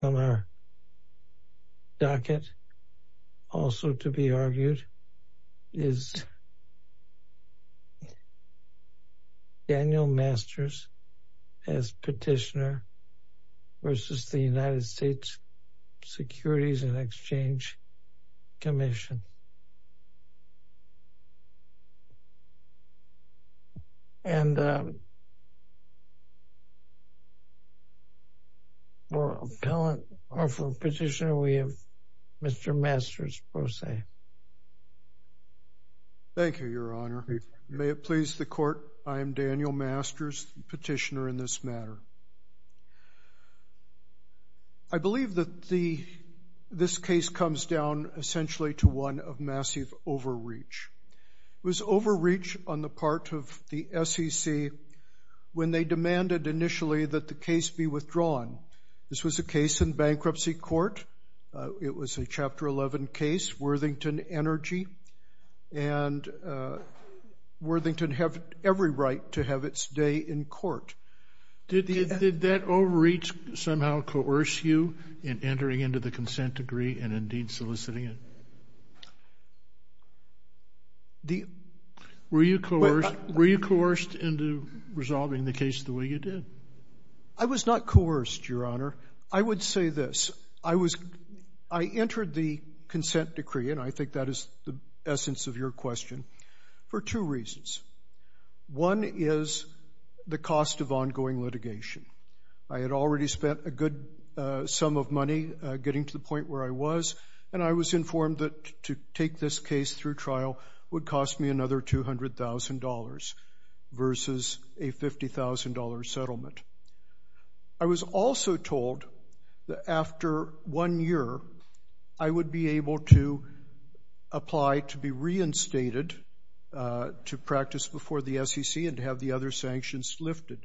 On our docket, also to be argued, is Daniel Masters as petitioner versus the United States Securities and Exchange Commission. And for Petitioner, we have Mr. Masters, Pro Se. Thank you, Your Honor. May it please the Court, I am Daniel Masters, Petitioner in this matter. I believe that this case comes down essentially to one of massive overreach. It was overreach on the part of the SEC when they demanded initially that the case be withdrawn. This was a case in bankruptcy court. It was a Chapter 11 case, Worthington Energy, and Worthington had every right to have its day in court. Did that overreach somehow coerce you in entering into the consent decree and indeed soliciting it? Were you coerced into resolving the case the way you did? I was not coerced, Your Honor. I would say this. I entered the consent decree, and I think that is the essence of your question, for two reasons. One is the cost of ongoing litigation. I had already spent a good sum of money getting to the point where I was, and I was informed that to take this case through trial would cost me another $200,000 versus a $50,000 settlement. I was also told that after one year I would be able to apply to be reinstated to practice before the SEC and to have the other sanctions lifted.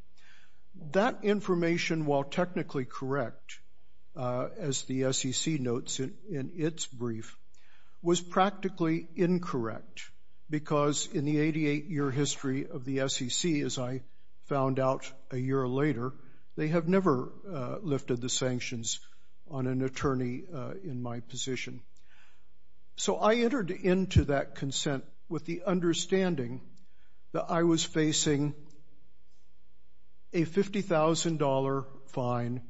That information, while technically correct, as the SEC notes in its brief, was practically incorrect, because in the 88-year history of the SEC, as I found out a year later, they have never lifted the sanctions on an attorney in my position. So I entered into that consent with the understanding that I was facing a $50,000 fine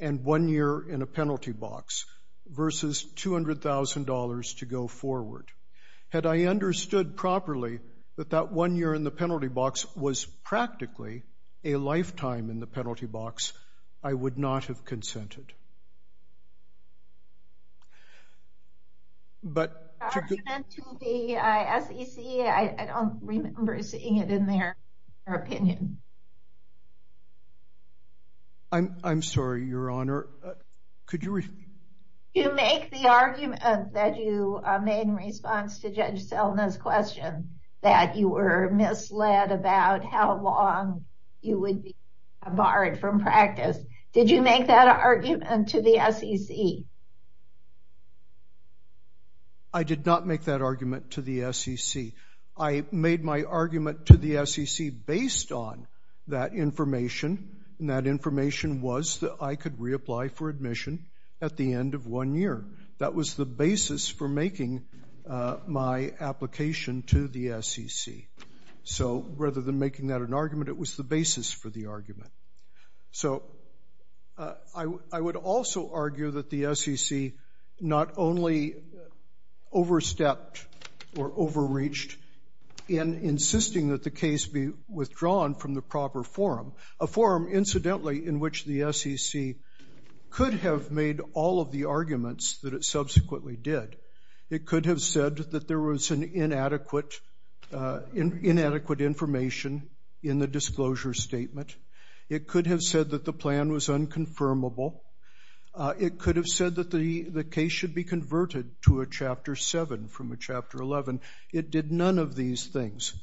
and one year in a penalty box versus $200,000 to go forward. Had I understood properly that that one year in the penalty box was practically a lifetime in the penalty box, I would not have consented. The argument to the SEC, I don't remember seeing it in their opinion. I'm sorry, Your Honor. Could you repeat? You make the argument that you made in response to Judge Selna's question that you were misled about how long you would be barred from practice. Did you make that argument to the SEC? I did not make that argument to the SEC. I made my argument to the SEC based on that information, and that information was that I could reapply for admission at the end of one year. That was the basis for making my application to the SEC. So rather than making that an argument, it was the basis for the argument. So I would also argue that the SEC not only overstepped or overreached in insisting that the case be withdrawn from the proper forum, a forum, incidentally, in which the SEC could have made all of the arguments that it subsequently did. It could have said that there was inadequate information in the disclosure statement. It could have said that the plan was unconfirmable. It could have said that the case should be converted to a Chapter 7 from a Chapter 11. It did none of these things.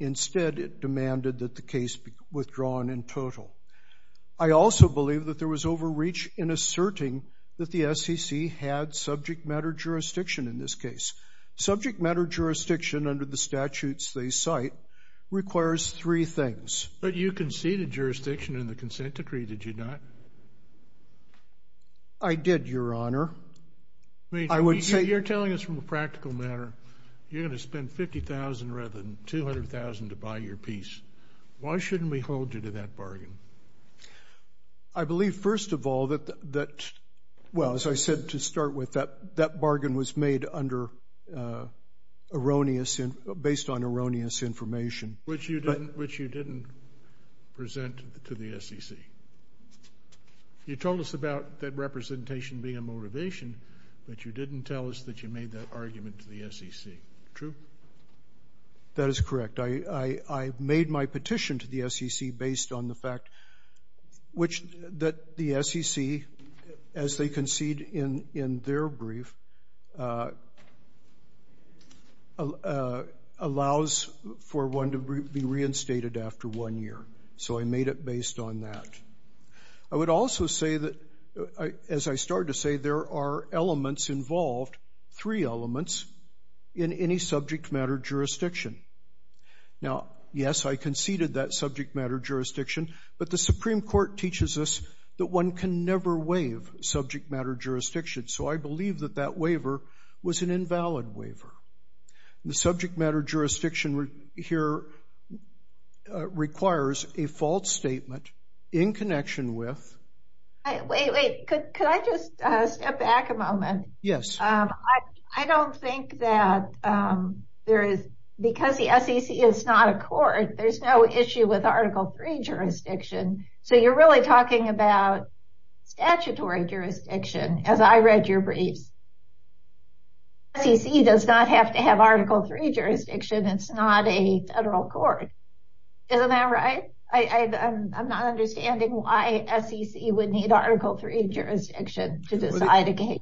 Instead, it demanded that the case be withdrawn in total. I also believe that there was overreach in asserting that the SEC had subject matter jurisdiction in this case. Subject matter jurisdiction under the statutes they cite requires three things. But you conceded jurisdiction in the consent decree, did you not? I did, Your Honor. I mean, you're telling us from a practical matter you're going to spend $50,000 rather than $200,000 to buy your piece. Why shouldn't we hold you to that bargain? I believe, first of all, that, well, as I said to start with, that bargain was made under erroneous, based on erroneous information. Which you didn't present to the SEC. You told us about that representation being a motivation, but you didn't tell us that you made that argument to the SEC. True? That is correct. I made my petition to the SEC based on the fact that the SEC, as they concede in their brief, allows for one to be reinstated after one year. So I made it based on that. I would also say that, as I started to say, there are elements involved, three elements, in any subject matter jurisdiction. Now, yes, I conceded that subject matter jurisdiction, but the Supreme Court teaches us that one can never waive subject matter jurisdiction. So I believe that that waiver was an invalid waiver. The subject matter jurisdiction here requires a false statement in connection with... Wait, wait. Could I just step back a moment? Yes. I don't think that there is, because the SEC is not a court, there's no issue with Article III jurisdiction. So you're really talking about statutory jurisdiction, as I read your briefs. SEC does not have to have Article III jurisdiction, it's not a federal court. Isn't that right? I'm not understanding why SEC would need Article III jurisdiction to decide a case.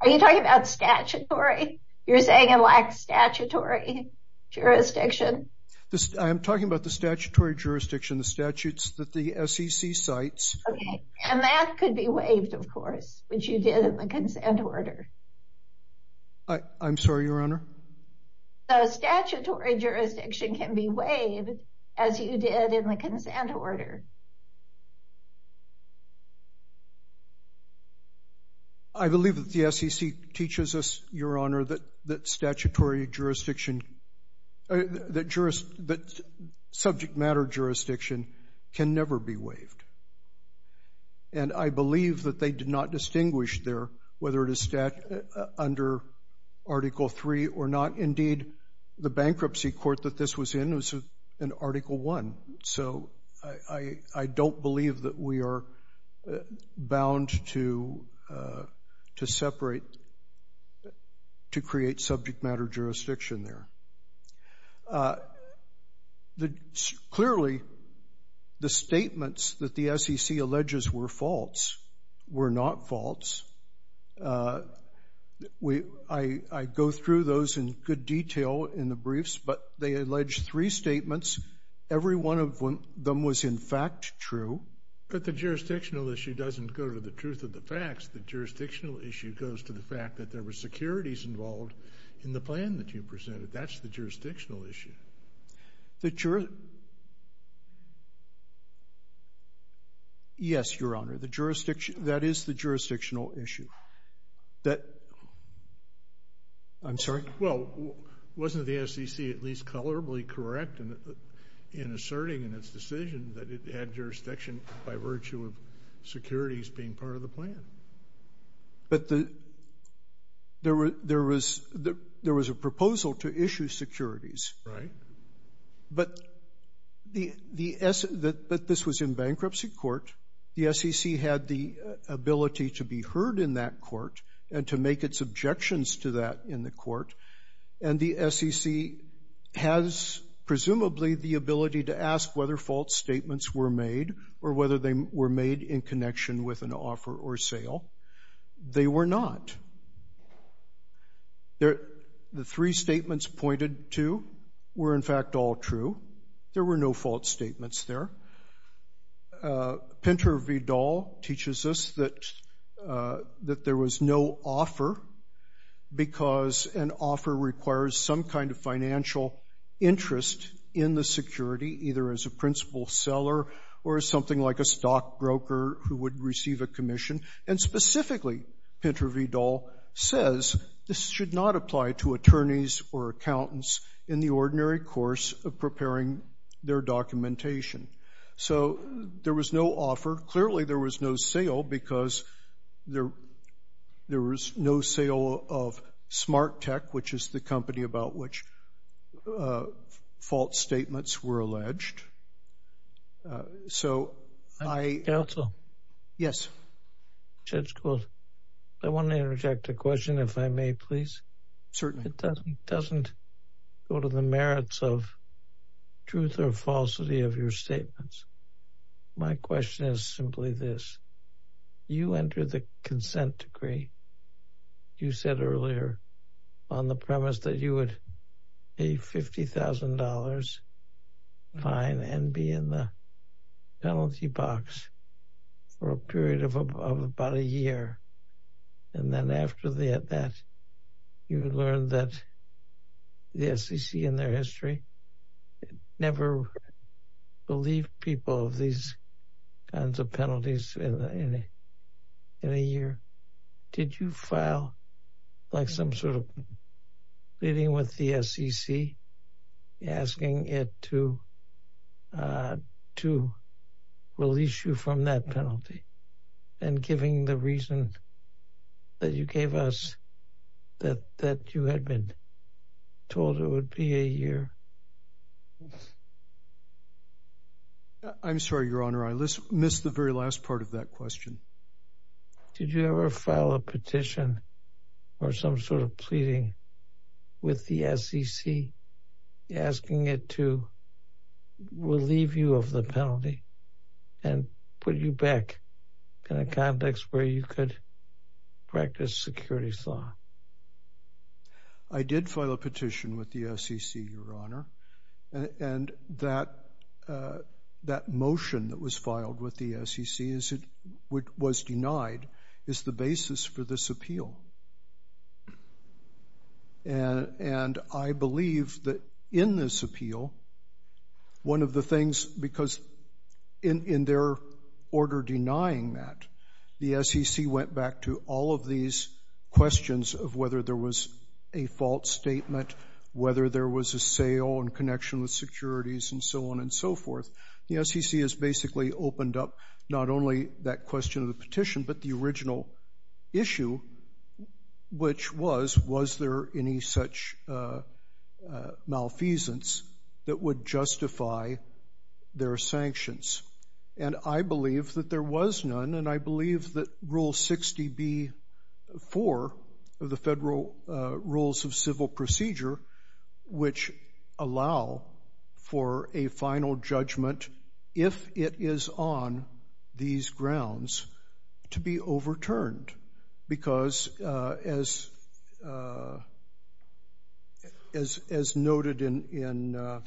Are you talking about statutory? You're saying it lacks statutory jurisdiction? I'm talking about the statutory jurisdiction, the statutes that the SEC cites. Okay, and that could be waived, of course, which you did in the consent order. I'm sorry, Your Honor? So statutory jurisdiction can be waived, as you did in the consent order. Okay. I believe that the SEC teaches us, Your Honor, that subject matter jurisdiction can never be waived. And I believe that they did not distinguish there whether it is under Article III or not. Indeed, the bankruptcy court that this was in was in Article I. So I don't believe that we are bound to separate, to create subject matter jurisdiction there. Clearly, the statements that the SEC alleges were false were not false. I go through those in good detail in the briefs, but they allege three statements. Every one of them was, in fact, true. But the jurisdictional issue doesn't go to the truth of the facts. The jurisdictional issue goes to the fact that there were securities involved in the plan that you presented. That's the jurisdictional issue. The jurisdiction? Yes, Your Honor, that is the jurisdictional issue. I'm sorry? Well, wasn't the SEC at least colorably correct in asserting in its decision that it had jurisdiction by virtue of securities being part of the plan? But there was a proposal to issue securities. Right. But this was in bankruptcy court. The SEC had the ability to be heard in that court and to make its objections to that in the court. And the SEC has, presumably, the ability to ask whether false statements were made or whether they were made in connection with an offer or sale. They were not. The three statements pointed to were, in fact, all true. There were no false statements there. Pinter Vidal teaches us that there was no offer because an offer requires some kind of financial interest in the security, either as a principal seller or as something like a stockbroker who would receive a commission. And specifically, Pinter Vidal says this should not apply to attorneys or accountants in the ordinary course of preparing their documentation. So there was no offer. Clearly, there was no sale because there was no sale of Smart Tech, which is the company about which false statements were alleged. Counsel? Yes. Judge Gould, I want to interject a question, if I may, please. Certainly. It doesn't go to the merits of truth or falsity of your statements. My question is simply this. You entered the consent decree. You said earlier on the premise that you would pay $50,000 fine and be in the penalty box for a period of about a year. And then after that, you learned that the SEC in their history never believed people of these kinds of penalties in a year. Did you file like some sort of meeting with the SEC asking it to to release you from that penalty and giving the reason that you gave us that that you had been told it would be a year? I'm sorry, Your Honor. I missed the very last part of that question. Did you ever file a petition or some sort of pleading with the SEC asking it to relieve you of the penalty and put you back in a complex where you could practice security? I did file a petition with the SEC, Your Honor. And that motion that was filed with the SEC was denied as the basis for this appeal. And I believe that in this appeal, one of the things, because in their order denying that, the SEC went back to all of these questions of whether there was a false statement, whether there was a sale in connection with securities and so on and so forth. The SEC has basically opened up not only that question of the petition, but the original issue, which was, was there any such malfeasance that would justify their sanctions? And I believe that there was none, and I believe that Rule 60b-4 of the Federal Rules of Civil Procedure, which allow for a final judgment if it is on these grounds, to be overturned. Because, as noted in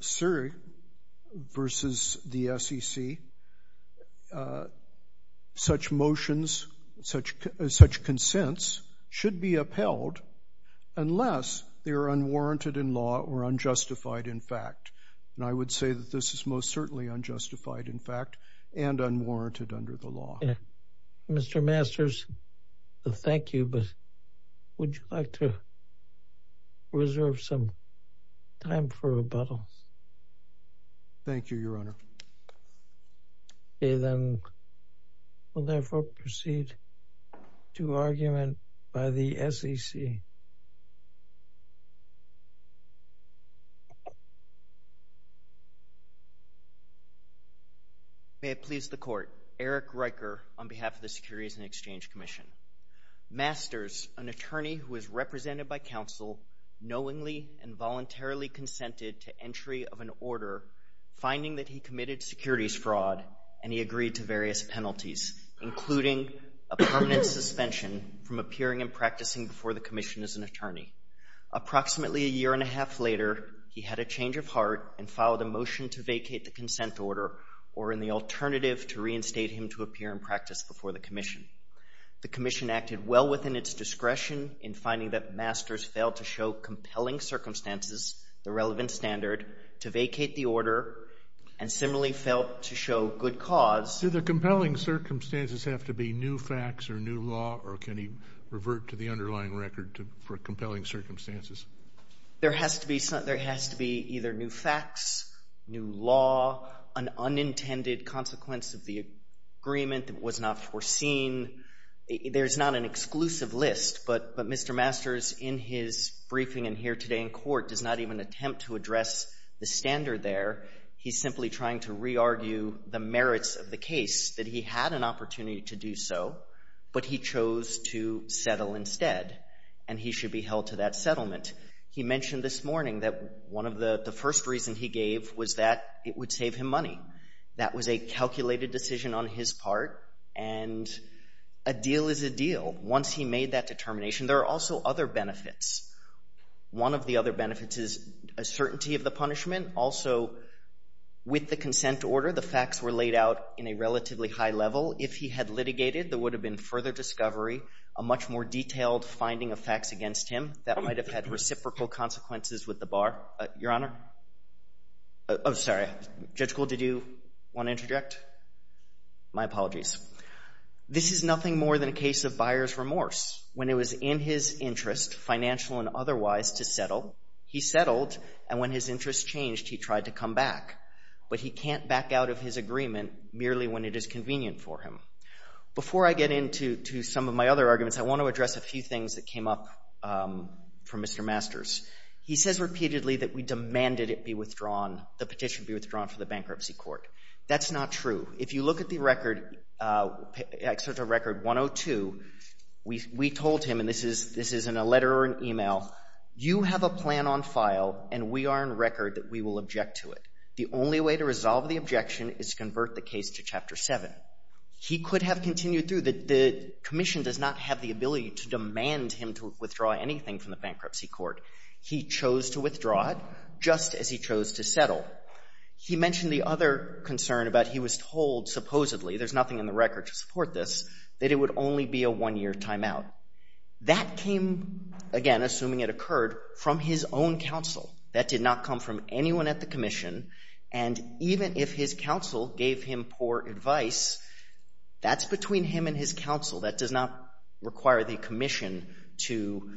Surrey v. the SEC, such motions, such consents should be upheld unless they are unwarranted in law or unjustified in fact. And I would say that this is most certainly unjustified in fact and unwarranted under the law. Mr. Masters, thank you, but would you like to reserve some time for rebuttal? Thank you, Your Honor. Okay, then we'll therefore proceed to argument by the SEC. May it please the Court. Eric Riker on behalf of the Securities and Exchange Commission. Masters, an attorney who was represented by counsel, knowingly and voluntarily consented to entry of an order, finding that he committed securities fraud, and he agreed to various penalties, including a permanent suspension from appearing and practicing before the Commission as an attorney. Approximately a year and a half later, he had a change of heart and filed a motion to vacate the consent order or in the alternative to reinstate him to appear and practice before the Commission. The Commission acted well within its discretion in finding that Masters failed to show compelling circumstances the relevant standard to vacate the order and similarly failed to show good cause. Do the compelling circumstances have to be new facts or new law, or can he revert to the underlying record for compelling circumstances? There has to be either new facts, new law, an unintended consequence of the agreement that was not foreseen. There's not an exclusive list, but Mr. Masters, in his briefing in here today in court, does not even attempt to address the standard there. He's simply trying to re-argue the merits of the case, that he had an opportunity to do so, but he chose to settle instead, and he should be held to that settlement. He mentioned this morning that one of the first reasons he gave was that it would save him money. That was a calculated decision on his part, and a deal is a deal. Once he made that determination, there are also other benefits. One of the other benefits is a certainty of the punishment. Also, with the consent order, the facts were laid out in a relatively high level. If he had litigated, there would have been further discovery, a much more detailed finding of facts against him. That might have had reciprocal consequences with the bar. Your Honor? Oh, sorry. Judge Gould, did you want to interject? My apologies. This is nothing more than a case of buyer's remorse. When it was in his interest, financial and otherwise, to settle, he settled, and when his interest changed, he tried to come back. But he can't back out of his agreement merely when it is convenient for him. Before I get into some of my other arguments, I want to address a few things that came up from Mr. Masters. He says repeatedly that we demanded it be withdrawn, the petition be withdrawn from the bankruptcy court. That's not true. If you look at the record, Excerpt of Record 102, we told him, and this is in a letter or an email, you have a plan on file, and we are on record that we will object to it. The only way to resolve the objection is to convert the case to Chapter 7. He could have continued through. The commission does not have the ability to demand him to withdraw anything from the bankruptcy court. He mentioned the other concern about he was told, supposedly, there's nothing in the record to support this, that it would only be a one-year timeout. That came, again, assuming it occurred, from his own counsel. That did not come from anyone at the commission, and even if his counsel gave him poor advice, that's between him and his counsel. That does not require the commission to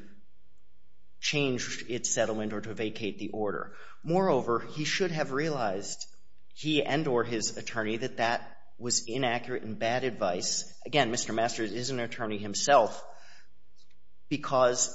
change its settlement or to vacate the order. Moreover, he should have realized, he and or his attorney, that that was inaccurate and bad advice. Again, Mr. Masters is an attorney himself because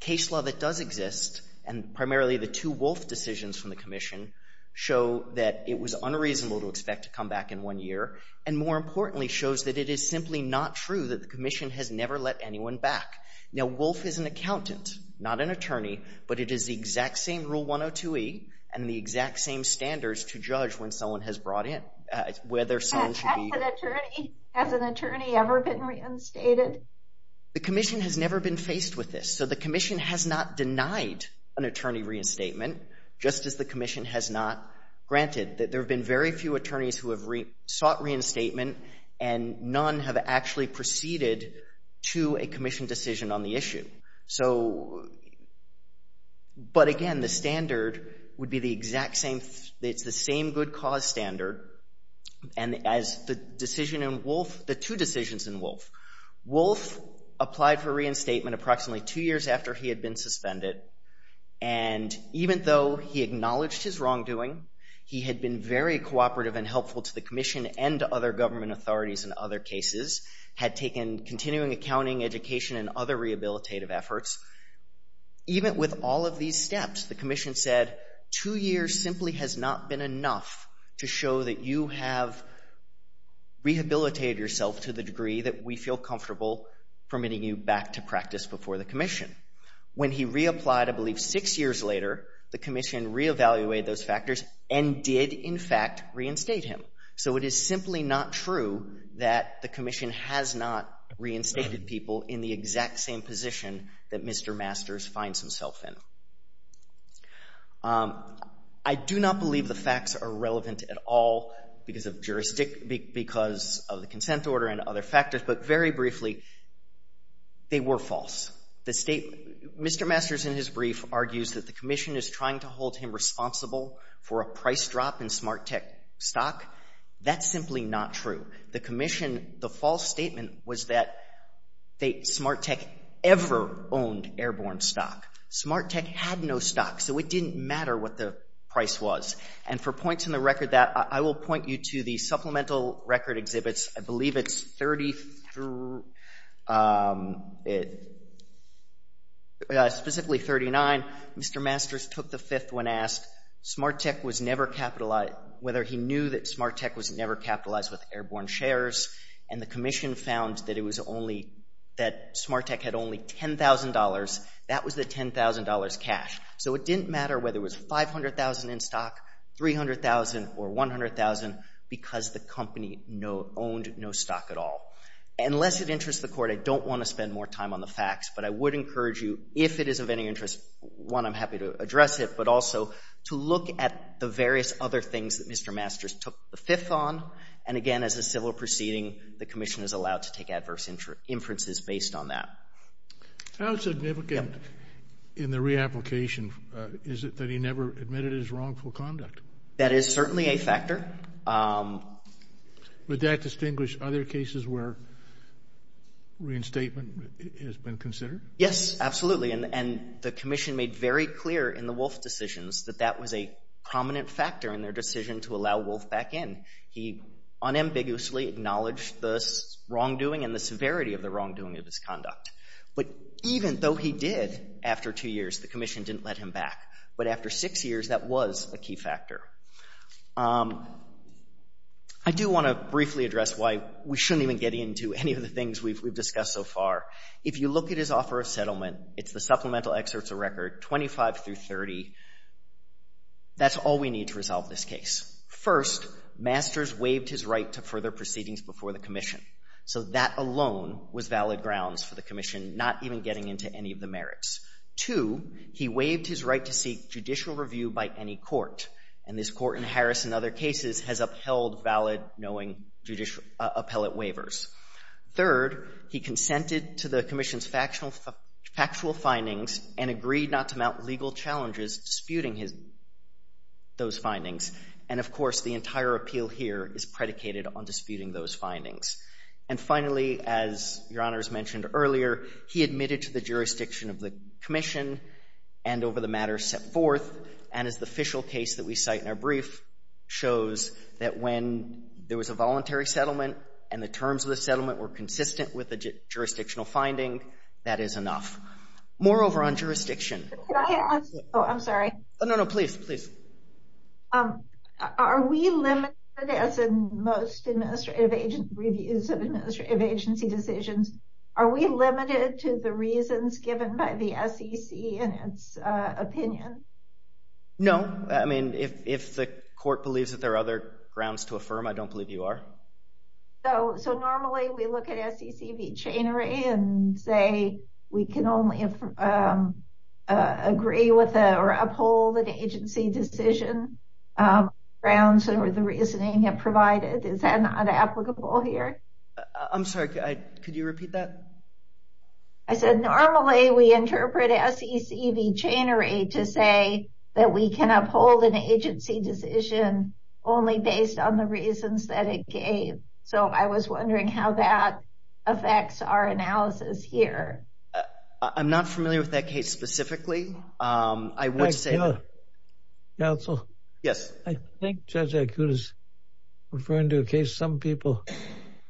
case law that does exist, and primarily the two Wolf decisions from the commission, show that it was unreasonable to expect to come back in one year, and more importantly shows that it is simply not true that the commission has never let anyone back. Now, Wolf is an accountant, not an attorney, but it is the exact same Rule 102e and the exact same standards to judge when someone has brought in, whether someone should be... Has an attorney ever been reinstated? The commission has never been faced with this, so the commission has not denied an attorney reinstatement, just as the commission has not granted. There have been very few attorneys who have sought reinstatement, and none have actually proceeded to a commission decision on the issue. So, but again, the standard would be the exact same, it's the same good cause standard, and as the decision in Wolf, the two decisions in Wolf, Wolf applied for reinstatement approximately two years after he had been suspended, and even though he acknowledged his wrongdoing, he had been very cooperative and helpful to the commission and other government authorities in other cases, had taken continuing accounting, education, and other rehabilitative efforts, even with all of these steps, the commission said, two years simply has not been enough to show that you have rehabilitated yourself to the degree that we feel comfortable permitting you back to practice before the commission. When he reapplied, I believe six years later, the commission reevaluated those factors and did, in fact, reinstate him. So it is simply not true that the commission has not reinstated people in the exact same position that Mr. Masters finds himself in. I do not believe the facts are relevant at all because of the consent order and other factors, but very briefly, they were false. Mr. Masters, in his brief, argues that the commission is trying to hold him responsible for a price drop in Smart Tech stock. That's simply not true. The commission, the false statement was that Smart Tech ever owned airborne stock. Smart Tech had no stock, so it didn't matter what the price was, and for points in the record that, I will point you to the supplemental record exhibits. I believe it's specifically 39. Mr. Masters took the fifth when asked whether he knew that Smart Tech was never capitalized with airborne shares, and the commission found that Smart Tech had only $10,000. That was the $10,000 cash. So it didn't matter whether it was $500,000 in stock, $300,000, or $100,000 because the company owned no stock at all. Unless it interests the court, I don't want to spend more time on the facts, but I would encourage you, if it is of any interest, one, I'm happy to address it, but also to look at the various other things that Mr. Masters took the fifth on, and again, as a civil proceeding, the commission is allowed to take adverse inferences based on that. How significant in the reapplication is it that he never admitted his wrongful conduct? That is certainly a factor. Would that distinguish other cases where reinstatement has been considered? Yes, absolutely, and the commission made very clear in the Wolf decisions that that was a prominent factor in their decision to allow Wolf back in. He unambiguously acknowledged the wrongdoing and the severity of the wrongdoing of his conduct, but even though he did, after two years, the commission didn't let him back, but after six years, that was a key factor. I do want to briefly address why we shouldn't even get into any of the things we've discussed so far. If you look at his offer of settlement, it's the supplemental excerpts of record 25 through 30. That's all we need to resolve this case. First, Masters waived his right to further proceedings before the commission, so that alone was valid grounds for the commission not even getting into any of the merits. Two, he waived his right to seek judicial review by any court, and this court in Harris and other cases has upheld valid knowing judicial appellate waivers. Third, he consented to the commission's factual findings and agreed not to mount legal challenges disputing those findings, and, of course, the entire appeal here is predicated on disputing those findings. And finally, as Your Honors mentioned earlier, he admitted to the jurisdiction of the commission and over the matter set forth, and as the official case that we cite in our brief shows, that when there was a voluntary settlement and the terms of the settlement were consistent with the jurisdictional finding, that is enough. Moreover, on jurisdiction. Can I ask? Oh, I'm sorry. No, no, please, please. Are we limited, as in most administrative reviews of administrative agency decisions, are we limited to the reasons given by the SEC in its opinion? No. I mean, if the court believes that there are other grounds to affirm, I don't believe you are. So normally we look at SEC v. Chainery and say we can only agree with or uphold an agency decision. Grounds or the reasoning it provided, is that not applicable here? I'm sorry. Could you repeat that? I said normally we interpret SEC v. Chainery to say that we can uphold an agency decision only based on the reasons that it gave. So I was wondering how that affects our analysis here. I'm not familiar with that case specifically. I would say... Counsel? Yes. I think Judge Akut is referring to a case some people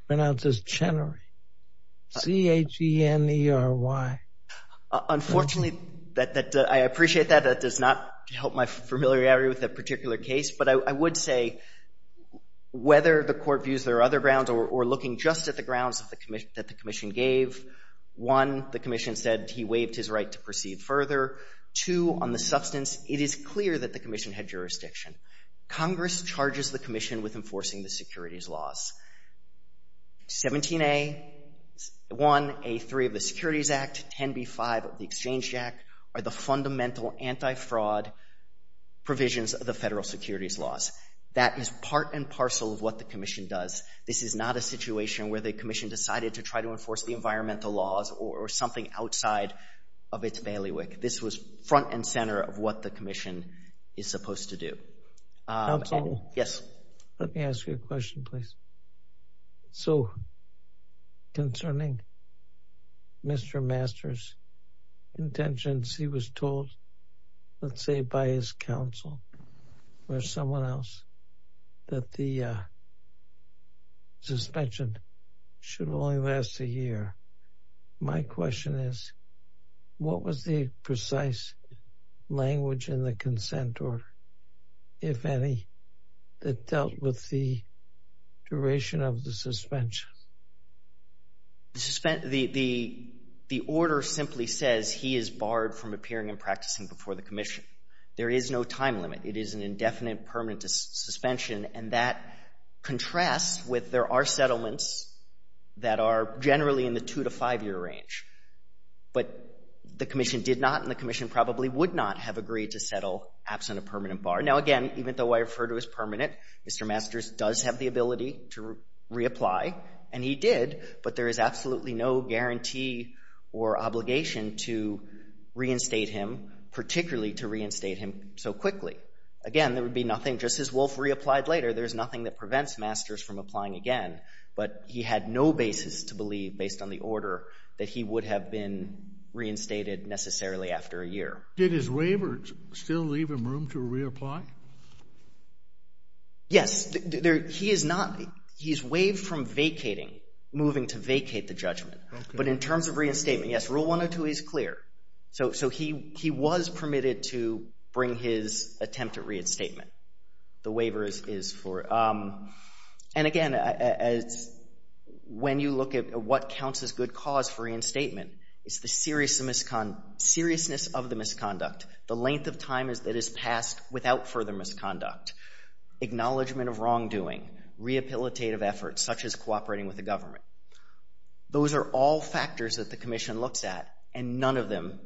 pronounce as Chainery. C-H-E-N-E-R-Y. Unfortunately, I appreciate that. That does not help my familiarity with that particular case, but I would say whether the court views there are other grounds or looking just at the grounds that the Commission gave, one, the Commission said he waived his right to proceed further. Two, on the substance, it is clear that the Commission had jurisdiction. Congress charges the Commission with enforcing the securities laws. 17A1A3 of the Securities Act, 10B5 of the Exchange Act, are the fundamental anti-fraud provisions of the federal securities laws. That is part and parcel of what the Commission does. This is not a situation where the Commission decided to try to enforce the environmental laws or something outside of its bailiwick. This was front and center of what the Commission is supposed to do. Yes. Let me ask you a question, please. So, concerning Mr. Masters' intentions, he was told, let's say by his counsel or someone else, that the suspension should only last a year. My question is, what was the precise language in the consent order, if any, that dealt with the duration of the suspension? The order simply says he is barred from appearing and practicing before the Commission. There is no time limit. It is an indefinite permanent suspension, and that contrasts with there are settlements that are generally in the two- to five-year range. But the Commission did not, and the Commission probably would not have agreed to settle absent a permanent bar. Now, again, even though I refer to it as permanent, Mr. Masters does have the ability to reapply, and he did, but there is absolutely no guarantee or obligation to reinstate him, particularly to reinstate him so quickly. Again, there would be nothing, just as Wolfe reapplied later, there's nothing that prevents Masters from applying again. But he had no basis to believe, based on the order, that he would have been reinstated necessarily after a year. Did his waiver still leave him room to reapply? Yes. He is not—he is waived from vacating, moving to vacate the judgment. But in terms of reinstatement, yes, Rule 102 is clear. So he was permitted to bring his attempt at reinstatement. The waiver is for—and again, when you look at what counts as good cause for reinstatement, it's the seriousness of the misconduct, the length of time that is passed without further misconduct, acknowledgment of wrongdoing, rehabilitative efforts, such as cooperating with the government. Those are all factors that the Commission looks at, and none of them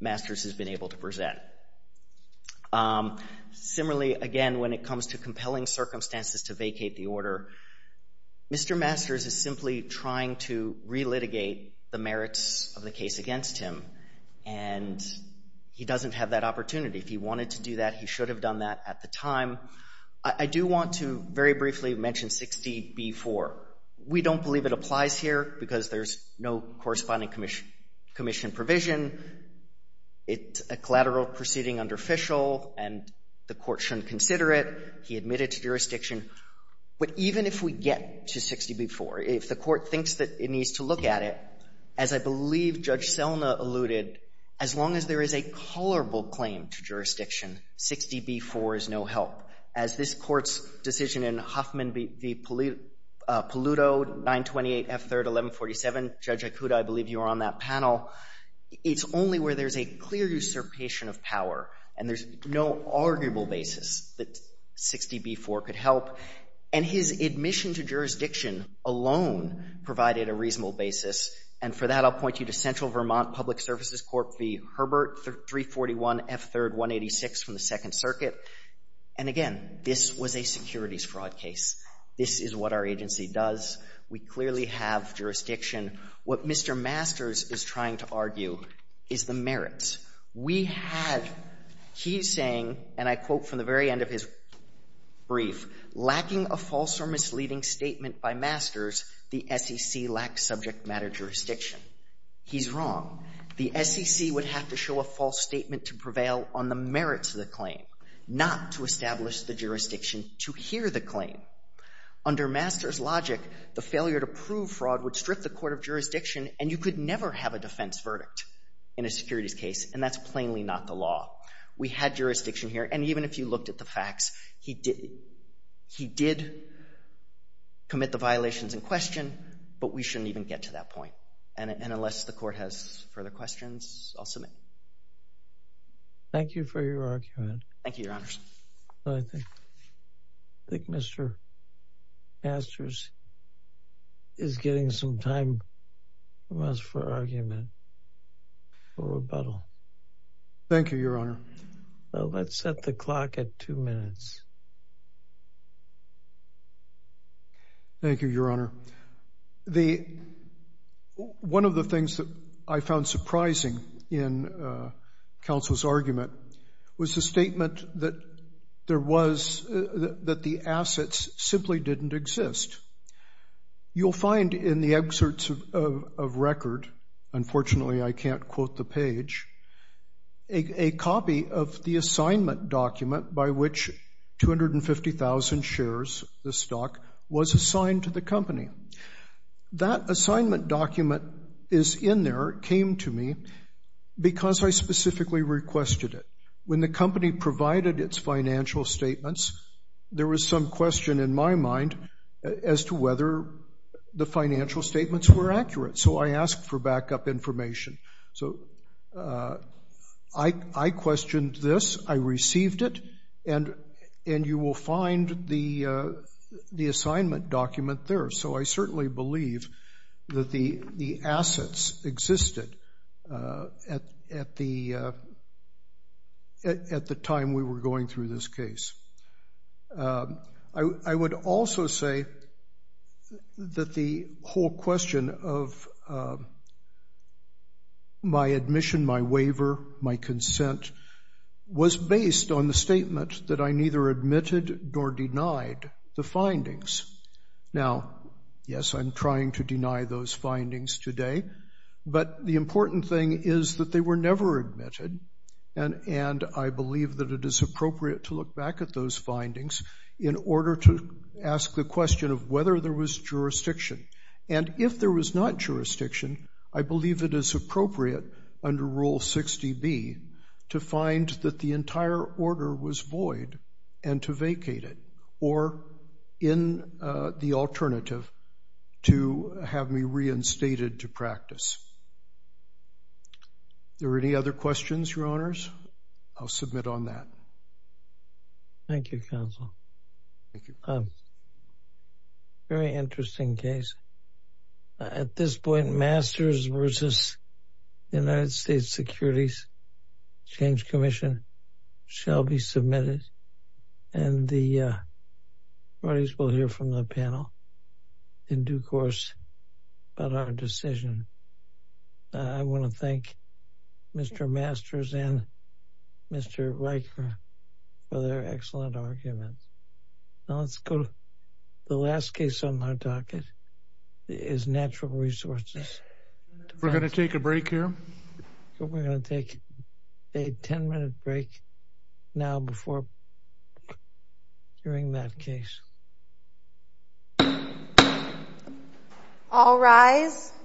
Masters has been able to present. Similarly, again, when it comes to compelling circumstances to vacate the order, Mr. Masters is simply trying to relitigate the merits of the case against him, and he doesn't have that opportunity. If he wanted to do that, he should have done that at the time. I do want to very briefly mention 60B4. We don't believe it applies here because there's no corresponding Commission provision. It's a collateral proceeding under Fishel, and the court shouldn't consider it. He admitted to jurisdiction. But even if we get to 60B4, if the court thinks that it needs to look at it, as I believe Judge Selna alluded, as long as there is a colorable claim to jurisdiction, 60B4 is no help. As this Court's decision in Huffman v. Paluto, 928 F. 3rd, 1147, Judge Ikuda, I believe you were on that panel, and there's no arguable basis that 60B4 could help. And his admission to jurisdiction alone provided a reasonable basis, and for that I'll point you to Central Vermont Public Services Court v. Herbert, 341 F. 3rd, 186 from the Second Circuit. And again, this was a securities fraud case. This is what our agency does. We clearly have jurisdiction. What Mr. Masters is trying to argue is the merits. We have he's saying, and I quote from the very end of his brief, lacking a false or misleading statement by Masters, the SEC lacks subject matter jurisdiction. He's wrong. The SEC would have to show a false statement to prevail on the merits of the claim, not to establish the jurisdiction to hear the claim. Under Masters' logic, the failure to prove fraud would strip the court of jurisdiction, and you could never have a defense verdict in a securities case, and that's plainly not the law. We had jurisdiction here, and even if you looked at the facts, he did commit the violations in question, but we shouldn't even get to that point. And unless the court has further questions, I'll submit. Thank you for your argument. Thank you, Your Honors. I think Mr. Masters is getting some time from us for argument for rebuttal. Thank you, Your Honor. Let's set the clock at two minutes. Thank you, Your Honor. One of the things that I found surprising in counsel's argument was the statement that the assets simply didn't exist. You'll find in the excerpts of record, unfortunately I can't quote the page, a copy of the assignment document by which 250,000 shares, the stock, was assigned to the company. That assignment document is in there, came to me, because I specifically requested it. When the company provided its financial statements, there was some question in my mind as to whether the financial statements were accurate, so I asked for backup information. I questioned this, I received it, and you will find the assignment document there. So I certainly believe that the assets existed at the time we were going through this case. I would also say that the whole question of my admission, my waiver, my consent, was based on the statement that I neither admitted nor denied the findings. Now, yes, I'm trying to deny those findings today, but the important thing is that they were never admitted, and I believe that it is appropriate to look back at those findings in order to ask the question of whether there was jurisdiction. And if there was not jurisdiction, I believe it is appropriate under Rule 60B to find that the entire order was void and to vacate it, or in the alternative, to have me reinstated to practice. Are there any other questions, Your Honors? I'll submit on that. Thank you, Counsel. Very interesting case. At this point, Masters v. United States Securities Exchange Commission shall be submitted, and the parties will hear from the panel in due course about our decision. I want to thank Mr. Masters and Mr. Riker for their excellent arguments. Now let's go to the last case on our docket, is Natural Resources. We're going to take a break here? We're going to take a 10-minute break now before hearing that case. All rise.